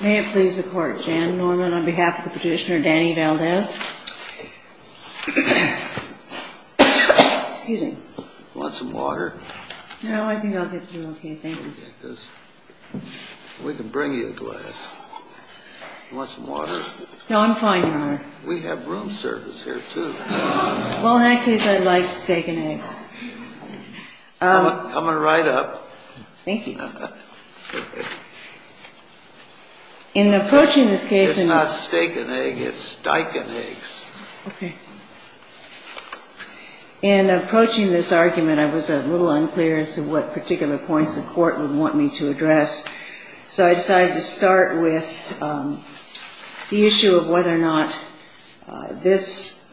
May it please the court, Jan Norman, on behalf of the petitioner Danny Valdez. Excuse me. Want some water? No, I think I'll get through, thank you. We can bring you a glass. Want some water? No, I'm fine, Your Honor. We have room service here, too. Well, in that case, I'd like steak and eggs. Coming right up. Thank you. It's not steak and egg, it's dyke and eggs. Okay. In approaching this argument, I was a little unclear as to what particular points the court would want me to address. So I decided to start with the issue of whether or not this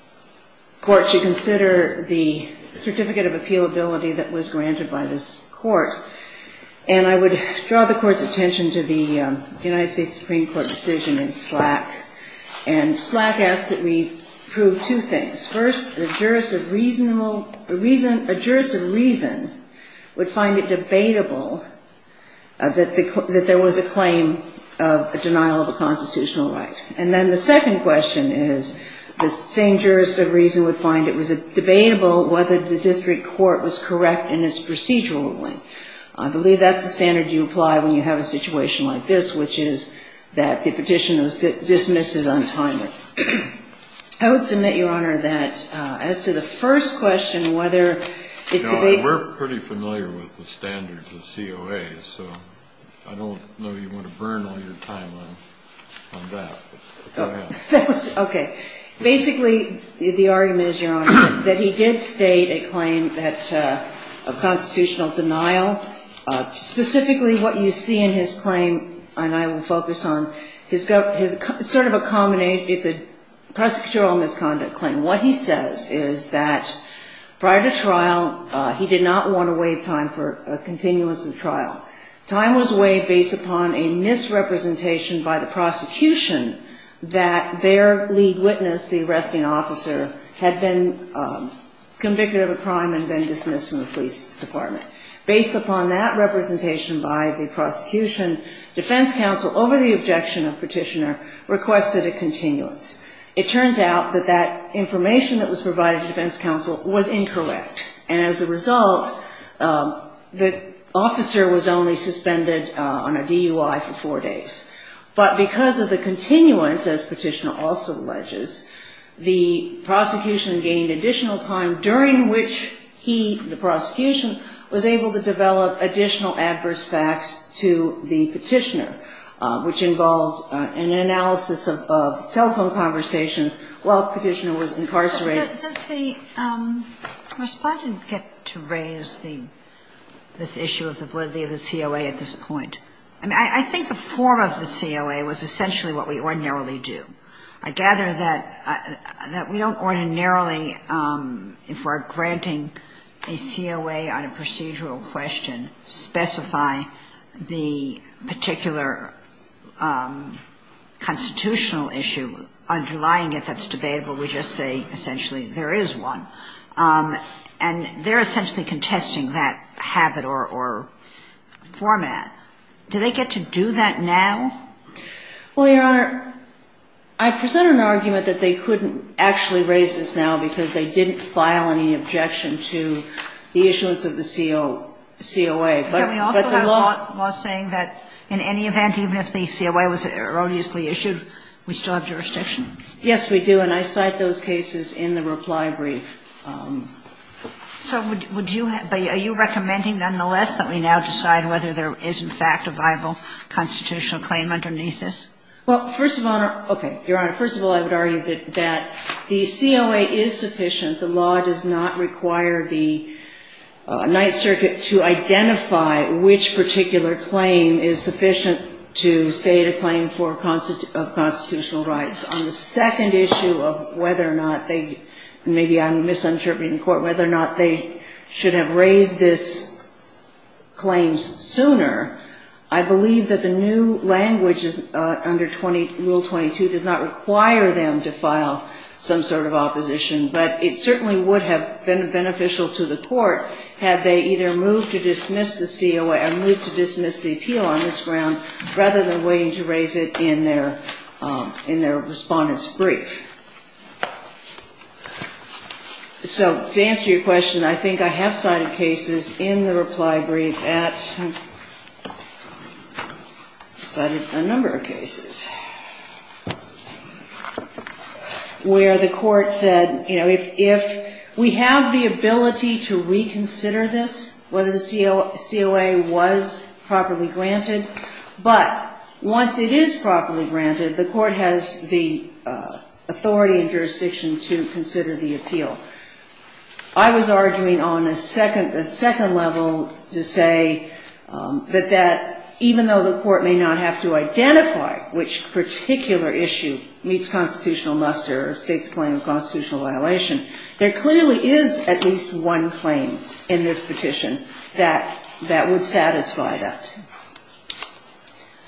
court should consider the certificate of appealability that was granted by this court. And I would draw the court's attention to the United States Supreme Court decision in Slack. And Slack asked that we prove two things. First, a jurist of reason would find it debatable that there was a claim of a denial of a constitutional right. And then the second question is the same jurist of reason would find it was debatable whether the district court was correct in its procedural ruling. I believe that's the standard you apply when you have a situation like this, which is that the petition was dismissed as untimely. I would submit, Your Honor, that as to the first question, whether it's debatable. Well, we're pretty familiar with the standards of COA, so I don't know you want to burn all your time on that, but go ahead. Okay. Basically, the argument is, Your Honor, that he did state a claim of constitutional denial. Specifically, what you see in his claim, and I will focus on, it's sort of a prosecutorial misconduct claim. And what he says is that prior to trial, he did not want to waive time for a continuance of trial. Time was waived based upon a misrepresentation by the prosecution that their lead witness, the arresting officer, had been convicted of a crime and been dismissed from the police department. Based upon that representation by the prosecution, defense counsel, over the objection of petitioner, requested a continuance. It turns out that that information that was provided to defense counsel was incorrect. And as a result, the officer was only suspended on a DUI for four days. But because of the continuance, as petitioner also alleges, the prosecution gained additional time, during which he, the prosecution, was able to develop additional adverse facts to the petitioner, which involved an analysis of telephone conversations while petitioner was incarcerated. Ginsburg. Does the Respondent get to raise this issue of the validity of the COA at this point? I mean, I think the form of the COA was essentially what we ordinarily do. I gather that we don't ordinarily, if we're granting a COA on a procedural question, specify the particular constitutional issue underlying it that's debatable. We just say essentially there is one. And they're essentially contesting that habit or format. Do they get to do that now? Well, Your Honor, I present an argument that they couldn't actually raise this now because they didn't file any objection to the issuance of the COA. But the law — Can we also have law saying that in any event, even if the COA was erroneously issued, we still have jurisdiction? Yes, we do. And I cite those cases in the reply brief. So would you — are you recommending, nonetheless, that we now decide whether there is, in fact, a viable constitutional claim underneath this? Well, first of all, Your Honor — okay. Your Honor, first of all, I would argue that the COA is sufficient. The law does not require the Ninth Circuit to identify which particular claim is sufficient to state a claim for constitutional rights. On the second issue of whether or not they — maybe I'm misinterpreting the court — whether or not they should have raised this claim sooner, I believe that the new language under Rule 22 does not require them to file some sort of opposition. But it certainly would have been beneficial to the court had they either moved to dismiss the COA or moved to dismiss the appeal on this ground rather than waiting to raise it in their — in their Respondent's Brief. So to answer your question, I think I have cited cases in the reply brief at — I've cited a number of cases — where the — you know, if we have the ability to reconsider this, whether the COA was properly granted. But once it is properly granted, the court has the authority and jurisdiction to consider the appeal. I was arguing on a second level to say that even though the court may not have to identify which particular issue meets the constitutional muster or state's claim of constitutional violation, there clearly is at least one claim in this petition that — that would satisfy that.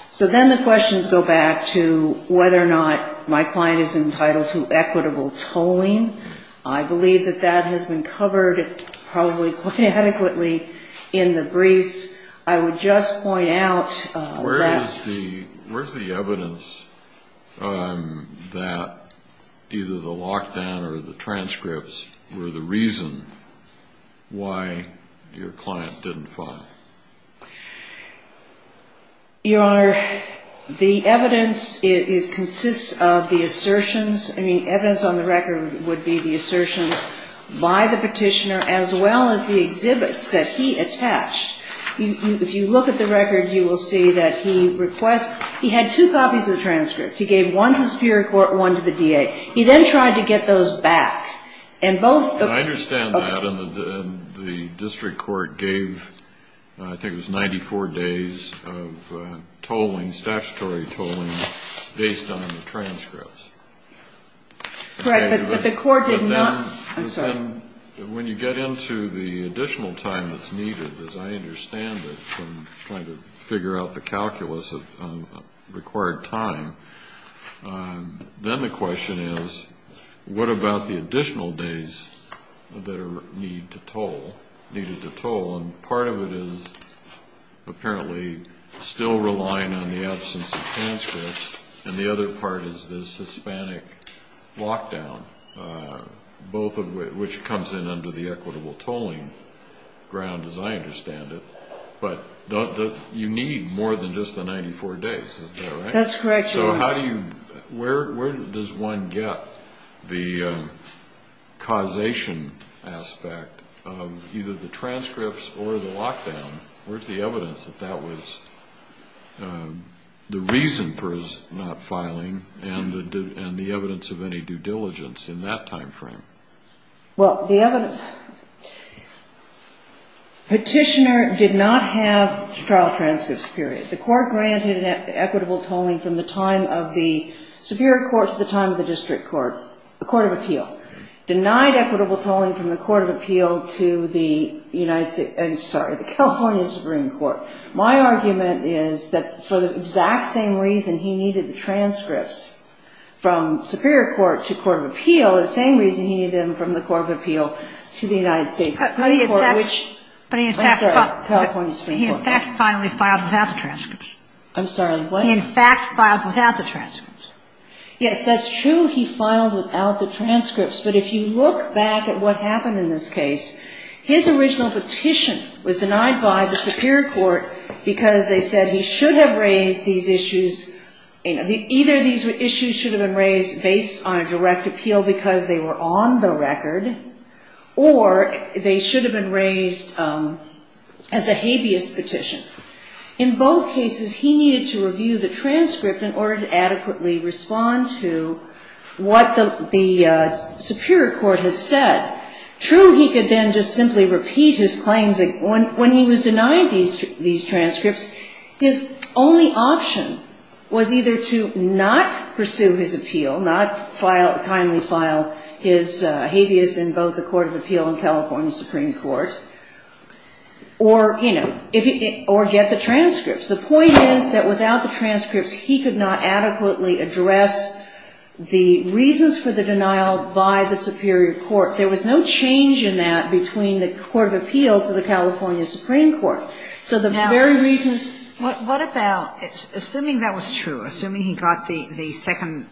So then the questions go back to whether or not my client is entitled to equitable tolling. I believe that that has been covered probably quite adequately in the briefs. I would just point out that — that either the lockdown or the transcripts were the reason why your client didn't file. Your Honor, the evidence is — consists of the assertions. I mean, evidence on the record would be the assertions by the petitioner as well as the exhibits that he attached. If you look at the record, you will see that he requests — he had two copies of the transcripts. He gave one to the superior court, one to the DA. He then tried to get those back. And both — I understand that. And the district court gave, I think it was 94 days of tolling, statutory tolling, based on the transcripts. Correct. But the court did not — I'm sorry. When you get into the additional time that's needed, as I understand it, from trying to figure out the calculus of required time, then the question is, what about the additional days that are needed to toll? And part of it is apparently still relying on the absence of transcripts. And the other part is this Hispanic lockdown. Both of which comes in under the equitable tolling ground, as I understand it. But you need more than just the 94 days. That's correct. So how do you — where does one get the causation aspect of either the transcripts or the lockdown? Where's the evidence that that was the reason for his not filing and the evidence of any due diligence in that time frame? Well, the evidence — petitioner did not have trial transcripts, period. The court granted an equitable tolling from the time of the superior court to the time of the district court, the court of appeal. Denied equitable tolling from the court of appeal to the United — I'm sorry, the California Supreme Court. My argument is that for the exact same reason he needed the transcripts from superior court to court of appeal, the same reason he needed them from the court of appeal to the United States Supreme Court, which — But he, in fact — I'm sorry, California Supreme Court. He, in fact, finally filed without the transcripts. I'm sorry, what? He, in fact, filed without the transcripts. Yes, that's true. He filed without the transcripts. But if you look back at what happened in this case, his original petition was denied by the superior court because they said he should have raised these issues — either these issues should have been raised based on a direct appeal because they were on the record or they should have been raised as a habeas petition. In both cases, he needed to review the transcript in order to adequately respond to what the superior court had said. True, he could then just simply repeat his claims. When he was denied these transcripts, his only option was either to not pursue his appeal, not timely file his habeas in both the court of appeal and California Supreme Court, or, you know, if he — or get the transcripts. The point is that without the transcripts, he could not adequately address the reasons for the denial by the superior court. There was no change in that between the court of appeal to the California Supreme Court. So the very reasons — Now, what about — assuming that was true, assuming he got the second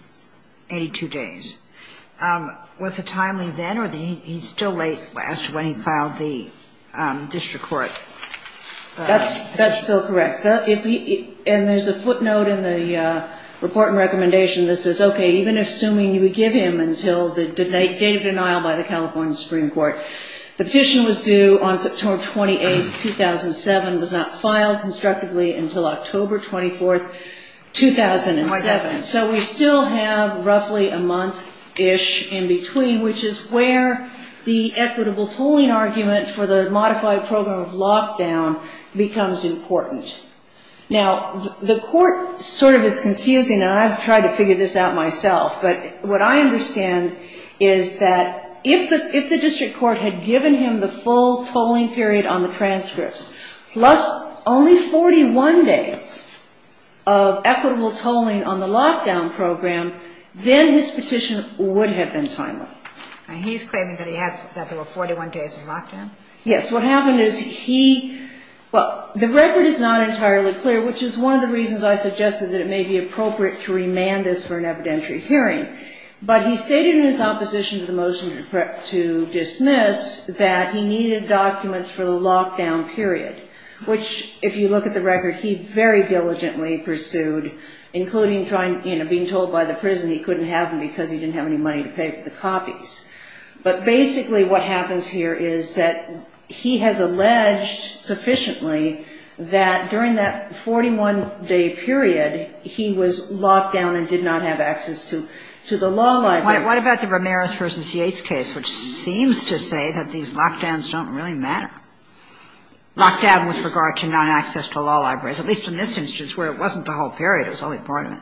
82 days, was it timely then, or he's still late when he filed the district court petition? That's still correct. And there's a footnote in the report and recommendation that says, okay, even assuming you would give him until the date of denial by the California Supreme Court, the petition was due on September 28, 2007, was not filed constructively until October 24, 2007. So we still have roughly a month-ish in between, which is where the equitable tolling argument for the modified program of lockdown becomes important. Now, the court sort of is confusing, and I've tried to figure this out myself, but what I understand is that if the district court had given him the full tolling period on the transcripts, plus only 41 days of equitable tolling on the lockdown program, then his petition would have been timely. And he's claiming that he had — that there were 41 days of lockdown? Yes. What happened is he — well, the record is not entirely clear, which is one of the reasons I suggested that it may be appropriate to remand this for an evidentiary hearing. But he stated in his opposition to the motion to dismiss that he needed documents for the lockdown period, which, if you look at the record, he very diligently pursued, including trying — you know, being told by the prison he couldn't have them because he didn't have any money to pay for the copies. But basically what happens here is that he has alleged sufficiently that during that 41-day period, he was locked down and did not have access to the law library. What about the Ramirez v. Yates case, which seems to say that these lockdowns don't really matter? Lockdown with regard to non-access to law libraries, at least in this instance where it wasn't the whole period, it was only part of it.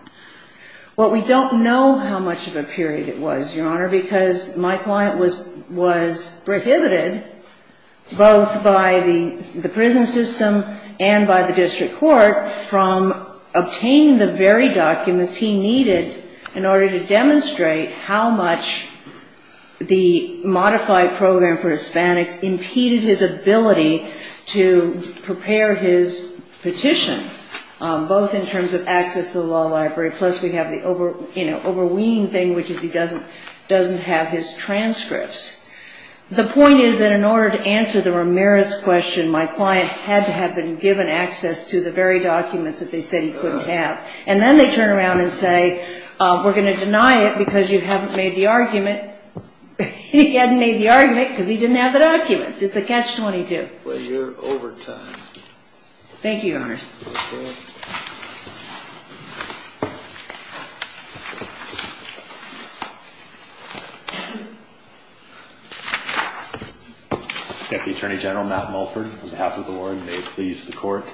Well, we don't know how much of a period it was, Your Honor, because my client was prohibited, both by the prison system and by the district court, from obtaining the very documents he needed in order to demonstrate how much the modified program for Hispanics impeded his ability to prepare his petition, both in terms of access to the law library, plus we have the overweening thing, which is he doesn't have his transcripts. The point is that in order to answer the Ramirez question, my client had to have been given access to the very documents that they said he couldn't have. And then they turn around and say, we're going to deny it because you haven't made the argument. He hadn't made the argument because he didn't have the documents. It's a catch-22. Well, you're over time. Thank you, Your Honors. Okay. Deputy Attorney General Matt Mulford, on behalf of the board, may it please the court.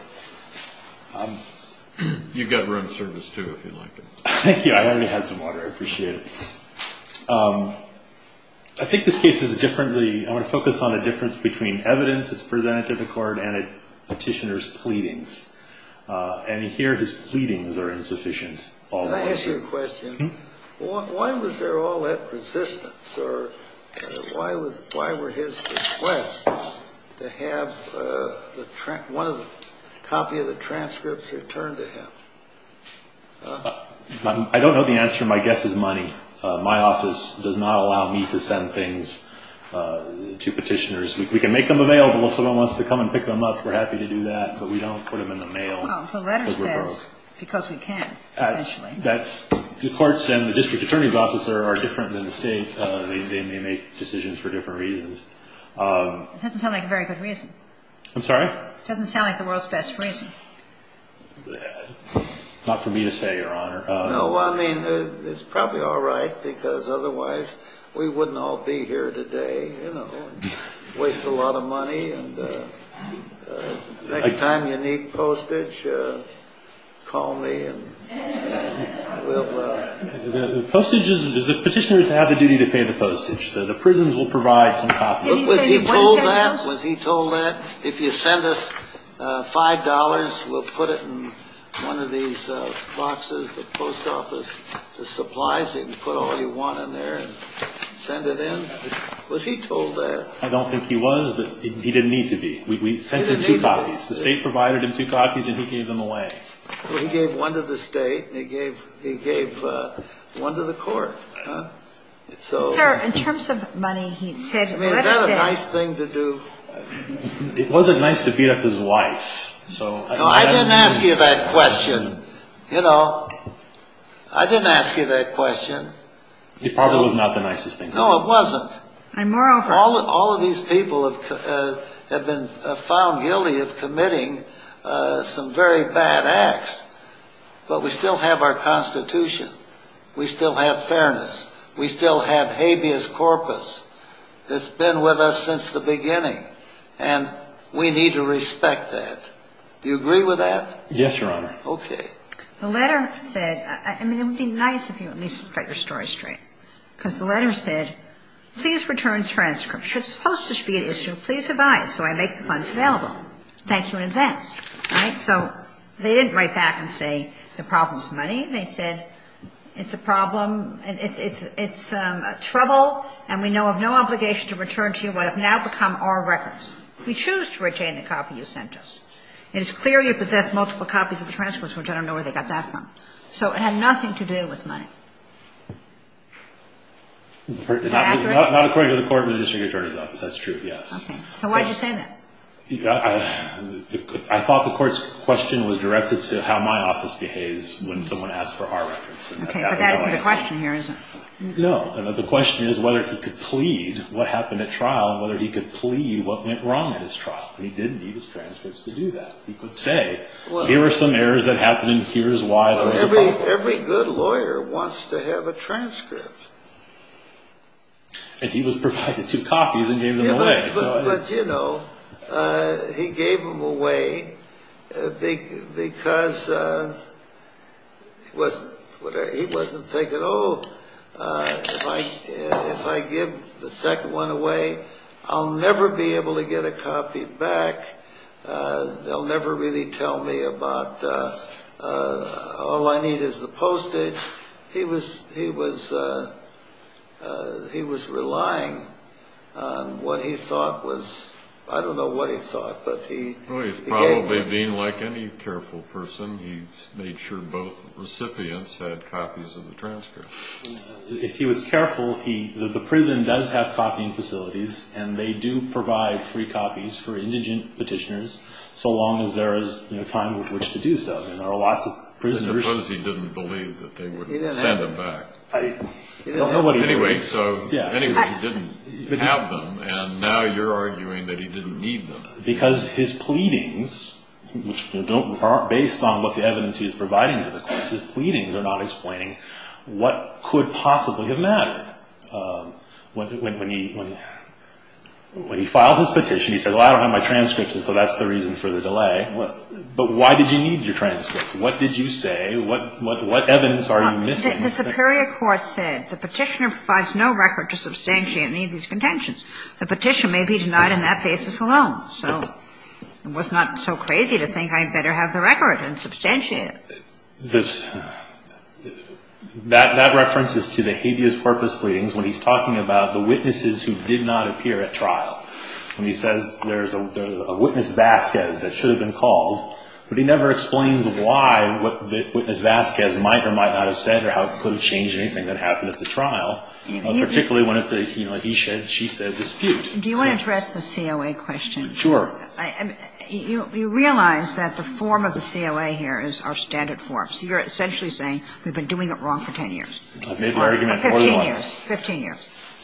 You've got room service, too, if you'd like. Thank you. I already had some water. I appreciate it. I think this case is differently – I want to focus on the difference between evidence that's presented to the court and a petitioner's pleadings. And here his pleadings are insufficient. Can I ask you a question? Why was there all that resistance? Or why were his requests to have one copy of the transcripts returned to him? I don't know the answer. My guess is money. My office does not allow me to send things to petitioners. We can make them available if someone wants to come and pick them up. We're happy to do that. But we don't put them in the mail. Well, the letter says because we can, essentially. That's – the courts and the district attorney's office are different than the state. They may make decisions for different reasons. It doesn't sound like a very good reason. I'm sorry? It doesn't sound like the world's best reason. Not for me to say, Your Honor. No, I mean, it's probably all right because otherwise we wouldn't all be here today, you know, and waste a lot of money. And next time you need postage, call me and we'll – The postage is – the petitioners have the duty to pay the postage. The prisons will provide some copies. Was he told that? Was he told that? If you send us $5, we'll put it in one of these boxes at the post office. The supplies, you can put all you want in there and send it in. Was he told that? I don't think he was, but he didn't need to be. We sent him two copies. The state provided him two copies and he gave them away. Well, he gave one to the state and he gave one to the court. Sir, in terms of money, he said – I mean, is that a nice thing to do? It wasn't nice to beat up his wife. No, I didn't ask you that question. You know, I didn't ask you that question. It probably was not the nicest thing. No, it wasn't. And moreover – All of these people have been found guilty of committing some very bad acts, but we still have our Constitution. We still have fairness. We still have habeas corpus. It's been with us since the beginning, and we need to respect that. Do you agree with that? Yes, Your Honor. Okay. The letter said – I mean, it would be nice if you at least got your story straight because the letter said, please return transcripts. It's supposed to be an issue. Please advise. So I make the funds available. Thank you in advance. Right? So they didn't write back and say the problem is money. They said it's a problem and it's trouble and we know of no obligation to return to you what have now become our records. We choose to retain the copy you sent us. It is clear you possess multiple copies of the transcripts, which I don't know where they got that from. So it had nothing to do with money. Not according to the court or the district attorney's office. That's true, yes. Okay. So why did you say that? I thought the court's question was directed to how my office behaves when someone asks for our records. Okay. But that isn't the question here, is it? No. The question is whether he could plead what happened at trial and whether he could plead what went wrong at his trial. He didn't need his transcripts to do that. He could say, here are some errors that happened and here's why. Every good lawyer wants to have a transcript. And he was provided two copies and gave them away. But, you know, he gave them away because he wasn't thinking, oh, if I give the second one away, I'll never be able to get a copy back. They'll never really tell me about all I need is the postage. He was relying on what he thought was, I don't know what he thought, but he gave them away. Well, he's probably being like any careful person. He made sure both recipients had copies of the transcripts. If he was careful, the prison does have copying facilities and they do provide free copies for indigent petitioners so long as there is time with which to do so. And there are lots of prisoners. I suppose he didn't believe that they would send them back. I don't know what he was doing. Anyway, so anyway, he didn't have them. And now you're arguing that he didn't need them. Because his pleadings, which are based on what the evidence he was providing to the courts, his pleadings are not explaining what could possibly have mattered. When he filed his petition, he said, well, I don't have my transcripts, and so that's the reason for the delay. But why did you need your transcripts? What did you say? What evidence are you missing? The superior court said the petitioner provides no record to substantiate any of these contentions. The petition may be denied on that basis alone. So it was not so crazy to think I'd better have the record and substantiate it. That reference is to the habeas corpus pleadings when he's talking about the witnesses who did not appear at trial. When he says there's a witness Vasquez that should have been called, but he never explains why, what witness Vasquez might or might not have said or how it could have changed anything that happened at the trial. Particularly when it's a, you know, he said, she said dispute. Do you want to address the COA question? Sure. You realize that the form of the COA here is our standard form. So you're essentially saying we've been doing it wrong for 10 years. I've made my argument more than once. 15 years.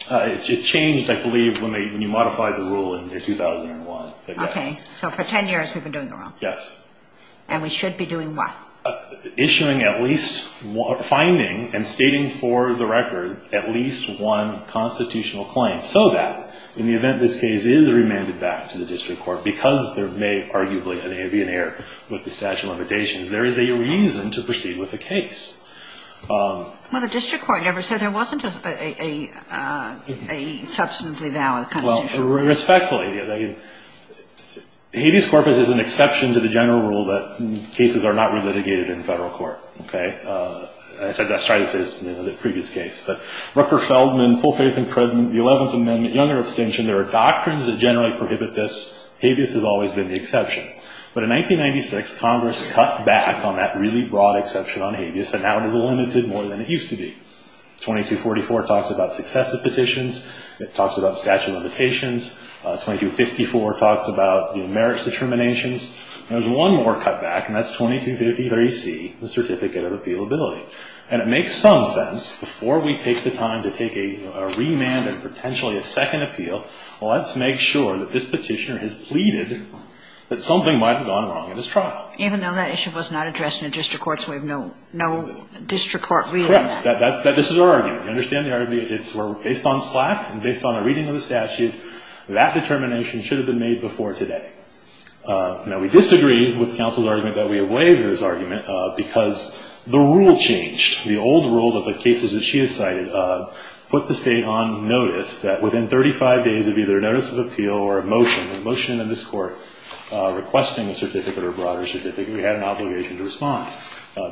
It changed, I believe, when you modified the rule in 2001. Okay. So for 10 years we've been doing it wrong. Yes. And we should be doing what? Issuing at least finding and stating for the record at least one constitutional claim, so that in the event this case is remanded back to the district court because there may arguably be an error with the statute of limitations, there is a reason to proceed with the case. Well, the district court never said there wasn't a substantively valid constitutional claim. Respectfully. Habeas corpus is an exception to the general rule that cases are not re-litigated in federal court. Okay. I said that, sorry to say, in the previous case. But Rucker-Feldman, full faith and cred, the 11th Amendment, Younger Extension, there are doctrines that generally prohibit this. Habeas has always been the exception. But in 1996, Congress cut back on that really broad exception on Habeas, and now it is limited more than it used to be. 2244 talks about successive petitions. It talks about statute of limitations. 2254 talks about, you know, merits determinations. And there's one more cutback, and that's 2250.30c, the certificate of appealability. And it makes some sense, before we take the time to take a remand and potentially a second appeal, let's make sure that this Petitioner has pleaded that something might have gone wrong in his trial. Even though that issue was not addressed in a district court, so we have no district court reading that? Correct. This is our argument. You understand the argument? It's based on SLAC and based on a reading of the statute. That determination should have been made before today. Now, we disagree with counsel's argument that we have waived this argument because the rule changed. The old rule of the cases that she has cited put the State on notice that within 35 days of either notice of appeal or a motion, a motion in this Court requesting a certificate or a broader certificate, we had an obligation to respond.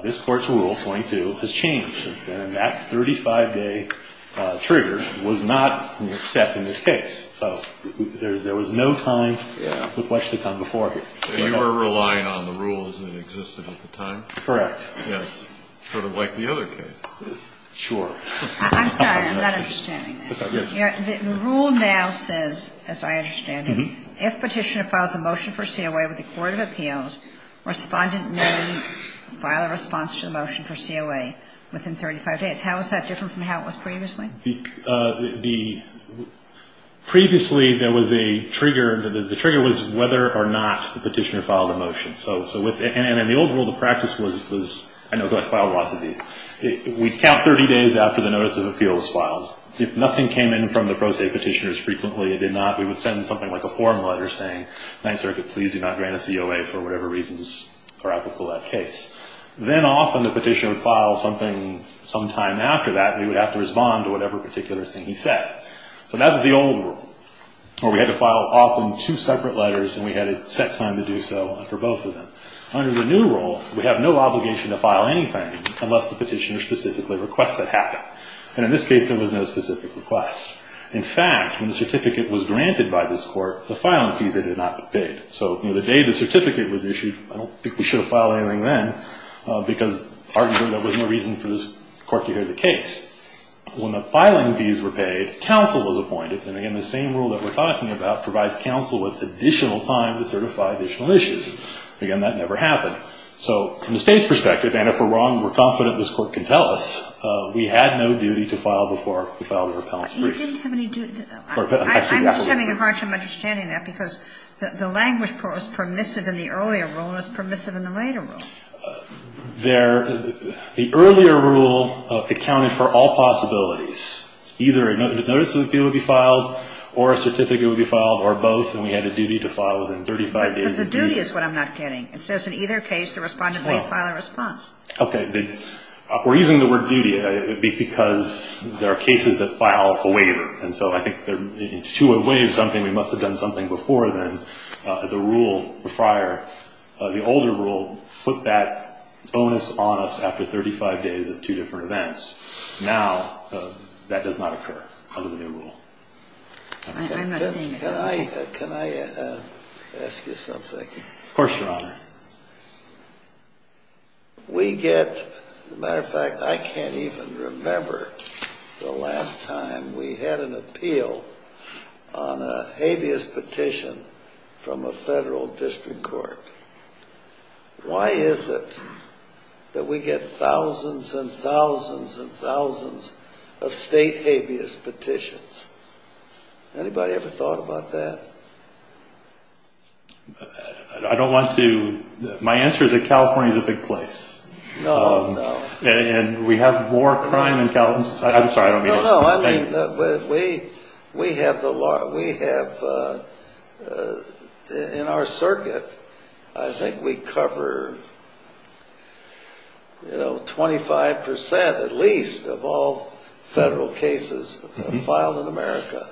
This Court's rule, 22, has changed. And that 35-day trigger was not accepted in this case. So there was no time with which to come before here. So you were relying on the rules that existed at the time? Correct. Yes. Sort of like the other case. Sure. I'm sorry. I'm not understanding this. Yes, I'm listening. The rule now says, as I understand it, if Petitioner files a motion for COA with the Court of Appeals, Respondent may file a response to the motion for COA within 35 days. How is that different from how it was previously? The – previously, there was a trigger. The trigger was whether or not the Petitioner filed a motion. So with – and the old rule of practice was – I know I've filed lots of these. We count 30 days after the notice of appeal is filed. If nothing came in from the pro se Petitioners frequently, it did not, we would send something like a form letter saying, Ninth Circuit, please do not grant a COA for whatever reasons are applicable to that case. Then often the Petitioner would file something sometime after that, and we would have to respond to whatever particular thing he said. So that was the old rule, where we had to file often two separate letters, and we had a set time to do so after both of them. Under the new rule, we have no obligation to file anything unless the Petitioner specifically requests that happen. And in this case, there was no specific request. In fact, when the certificate was granted by this court, the filing fees had not been paid. So the day the certificate was issued, I don't think we should have filed anything then, because arguably there was no reason for this court to hear the case. When the filing fees were paid, counsel was appointed. And again, the same rule that we're talking about provides counsel with additional time to certify additional issues. Again, that never happened. So from the State's perspective, and if we're wrong, we're confident this court can tell us, we had no duty to file before we filed an appellant's brief. But you didn't have any duty. I see that a little bit. I'm assuming you're hard to understand that, because the language was permissive in the earlier rule and was permissive in the later rule. The earlier rule accounted for all possibilities. Either a notice of appeal would be filed, or a certificate would be filed, or both. And we had a duty to file within 35 days. But the duty is what I'm not getting. It says in either case the respondent may file a response. Okay. We're using the word duty because there are cases that file a waiver. And so I think to waive something, we must have done something before then. The rule prior, the older rule, put that bonus on us after 35 days of two different events. Now that does not occur under the new rule. I'm not seeing it. Can I ask you something? Of course, Your Honor. We get, as a matter of fact, I can't even remember the last time we had an appeal on a habeas petition from a federal district court. Why is it that we get thousands and thousands and thousands of state habeas petitions? Anybody ever thought about that? I don't want to. My answer is that California is a big place. No, no. And we have more crime in California. I'm sorry. I don't mean it. No, no. I mean, we have the law. We have, in our circuit, I think we cover, you know, 25 percent at least of all federal cases filed in America.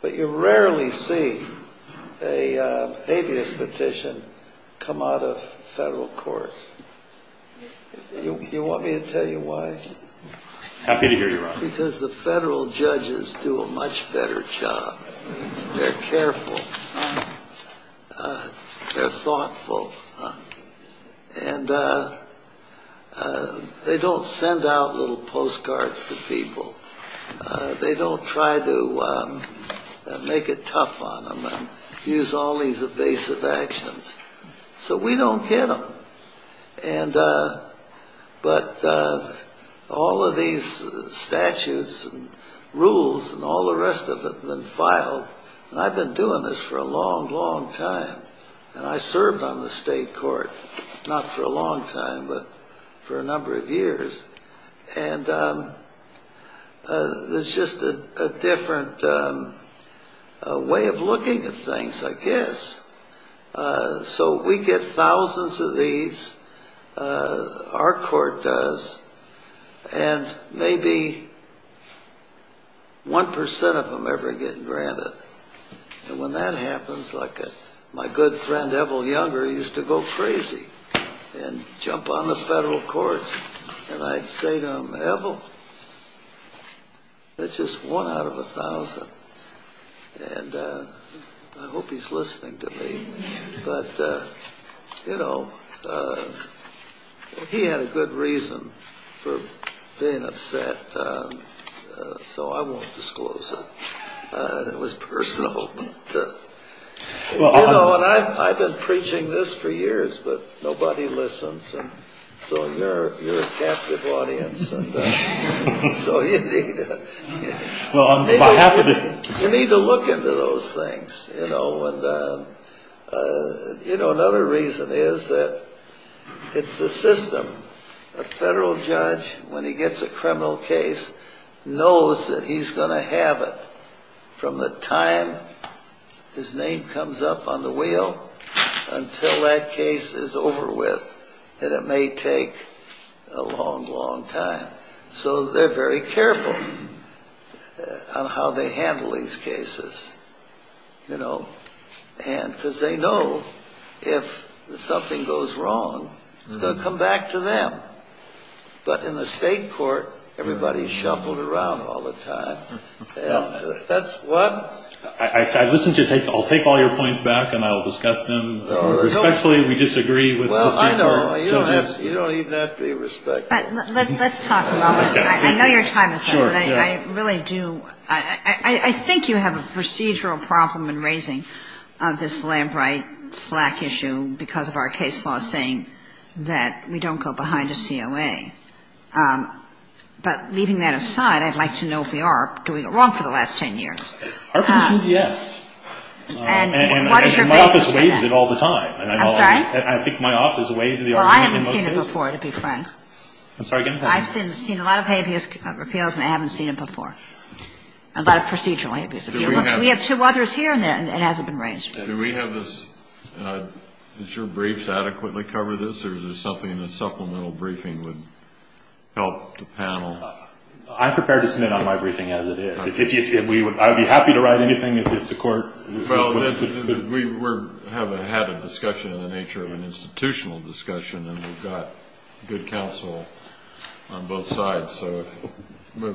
But you rarely see a habeas petition come out of federal courts. You want me to tell you why? Happy to hear you, Your Honor. Because the federal judges do a much better job. They're careful. They're thoughtful. And they don't send out little postcards to people. They don't try to make it tough on them and use all these evasive actions. So we don't get them. But all of these statutes and rules and all the rest of it have been filed. And I've been doing this for a long, long time. And I served on the state court, not for a long time, but for a number of years. And it's just a different way of looking at things, I guess. So we get thousands of these. Our court does. And maybe one percent of them ever get granted. And when that happens, like my good friend, Evel Younger, used to go crazy and jump on the federal courts. And I'd say to him, Evel, that's just one out of a thousand. And I hope he's listening to me. But, you know, he had a good reason for being upset, so I won't disclose it. It was personal. You know, and I've been preaching this for years, but nobody listens. So you're a captive audience. So you need to look into those things, you know. And, you know, another reason is that it's a system. A federal judge, when he gets a criminal case, knows that he's going to have it from the time his name comes up on the wheel until that case is over with. And it may take a long, long time. So they're very careful on how they handle these cases, you know. And because they know if something goes wrong, it's going to come back to them. But in the state court, everybody's shuffled around all the time. That's one. I'll take all your points back and I'll discuss them respectfully. We disagree with the state court. Well, I know. You don't even have to be respectful. Let's talk about it. I know your time is up, but I really do. I think you have a procedural problem in raising this Lambright-Slack issue because of our case law saying that we don't go behind a COA. And I think that's a good thing. But leaving that aside, I'd like to know if we are doing it wrong for the last 10 years. Our position is yes. And my office waives it all the time. I'm sorry? I think my office waives the argument in most cases. Well, I haven't seen it before, to be frank. I'm sorry, go ahead. I've seen a lot of habeas appeals and I haven't seen it before, a lot of procedural habeas appeals. We have two others here and it hasn't been raised. Do we have this? Does your brief adequately cover this or is there something in the supplemental briefing would help the panel? I'm prepared to submit on my briefing as it is. I would be happy to write anything if the court would. We have had a discussion in the nature of an institutional discussion and we've got good counsel on both sides. So we'll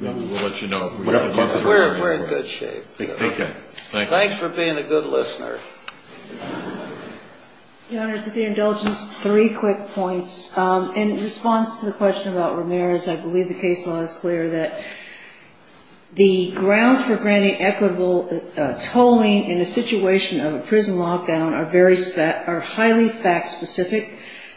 let you know. We're in good shape. Okay. Thanks for being a good listener. Your Honor, with your indulgence, three quick points. In response to the question about Ramirez, I believe the case law is clear that the grounds for granting equitable tolling in a situation of a prison lockdown are highly fact specific.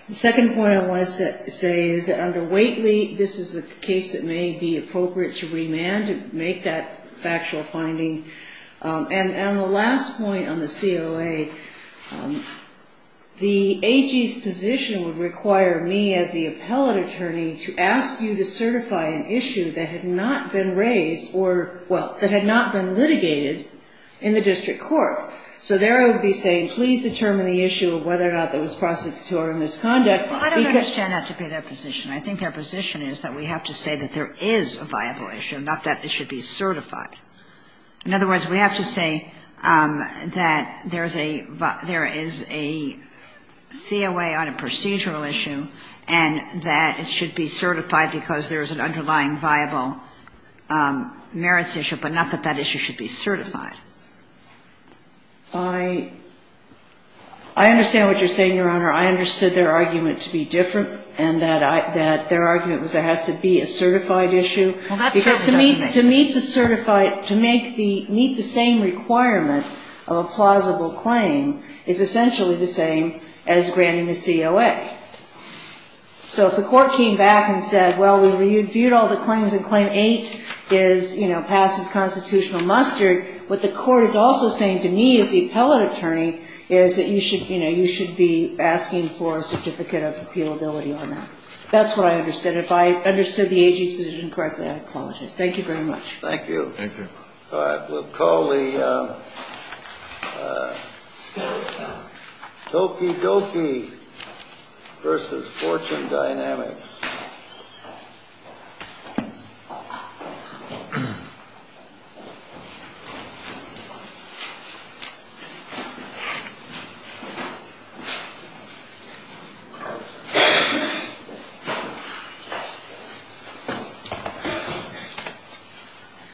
The second point I want to say is that under Waitley, this is a case that may be appropriate to remand, to make that factual finding. And the last point on the COA, the AG's position would require me as the appellate attorney to ask you to certify an issue that had not been raised or, well, that had not been litigated in the district court. So there I would be saying please determine the issue of whether or not there was prosecutorial misconduct. Well, I don't understand that to be their position. I think their position is that we have to say that there is a viable issue, not that it should be certified. In other words, we have to say that there is a COA on a procedural issue and that it should be certified because there is an underlying viable merits issue, but not that that issue should be certified. I understand what you're saying, Your Honor. I understood their argument to be different and that their argument was there has to be a certified issue. Because to meet the same requirement of a plausible claim is essentially the same as granting the COA. So if the court came back and said, well, we reviewed all the claims and Claim 8 is, you know, passes constitutional muster, what the court is also saying to me as the appellate attorney is that you should, you know, you should be asking for a certificate of appealability on that. That's what I understood. If I understood the AG's position correctly, I apologize. Thank you very much. Thank you. Thank you. All right. We'll call the Tokidoki versus Fortune Dynamics.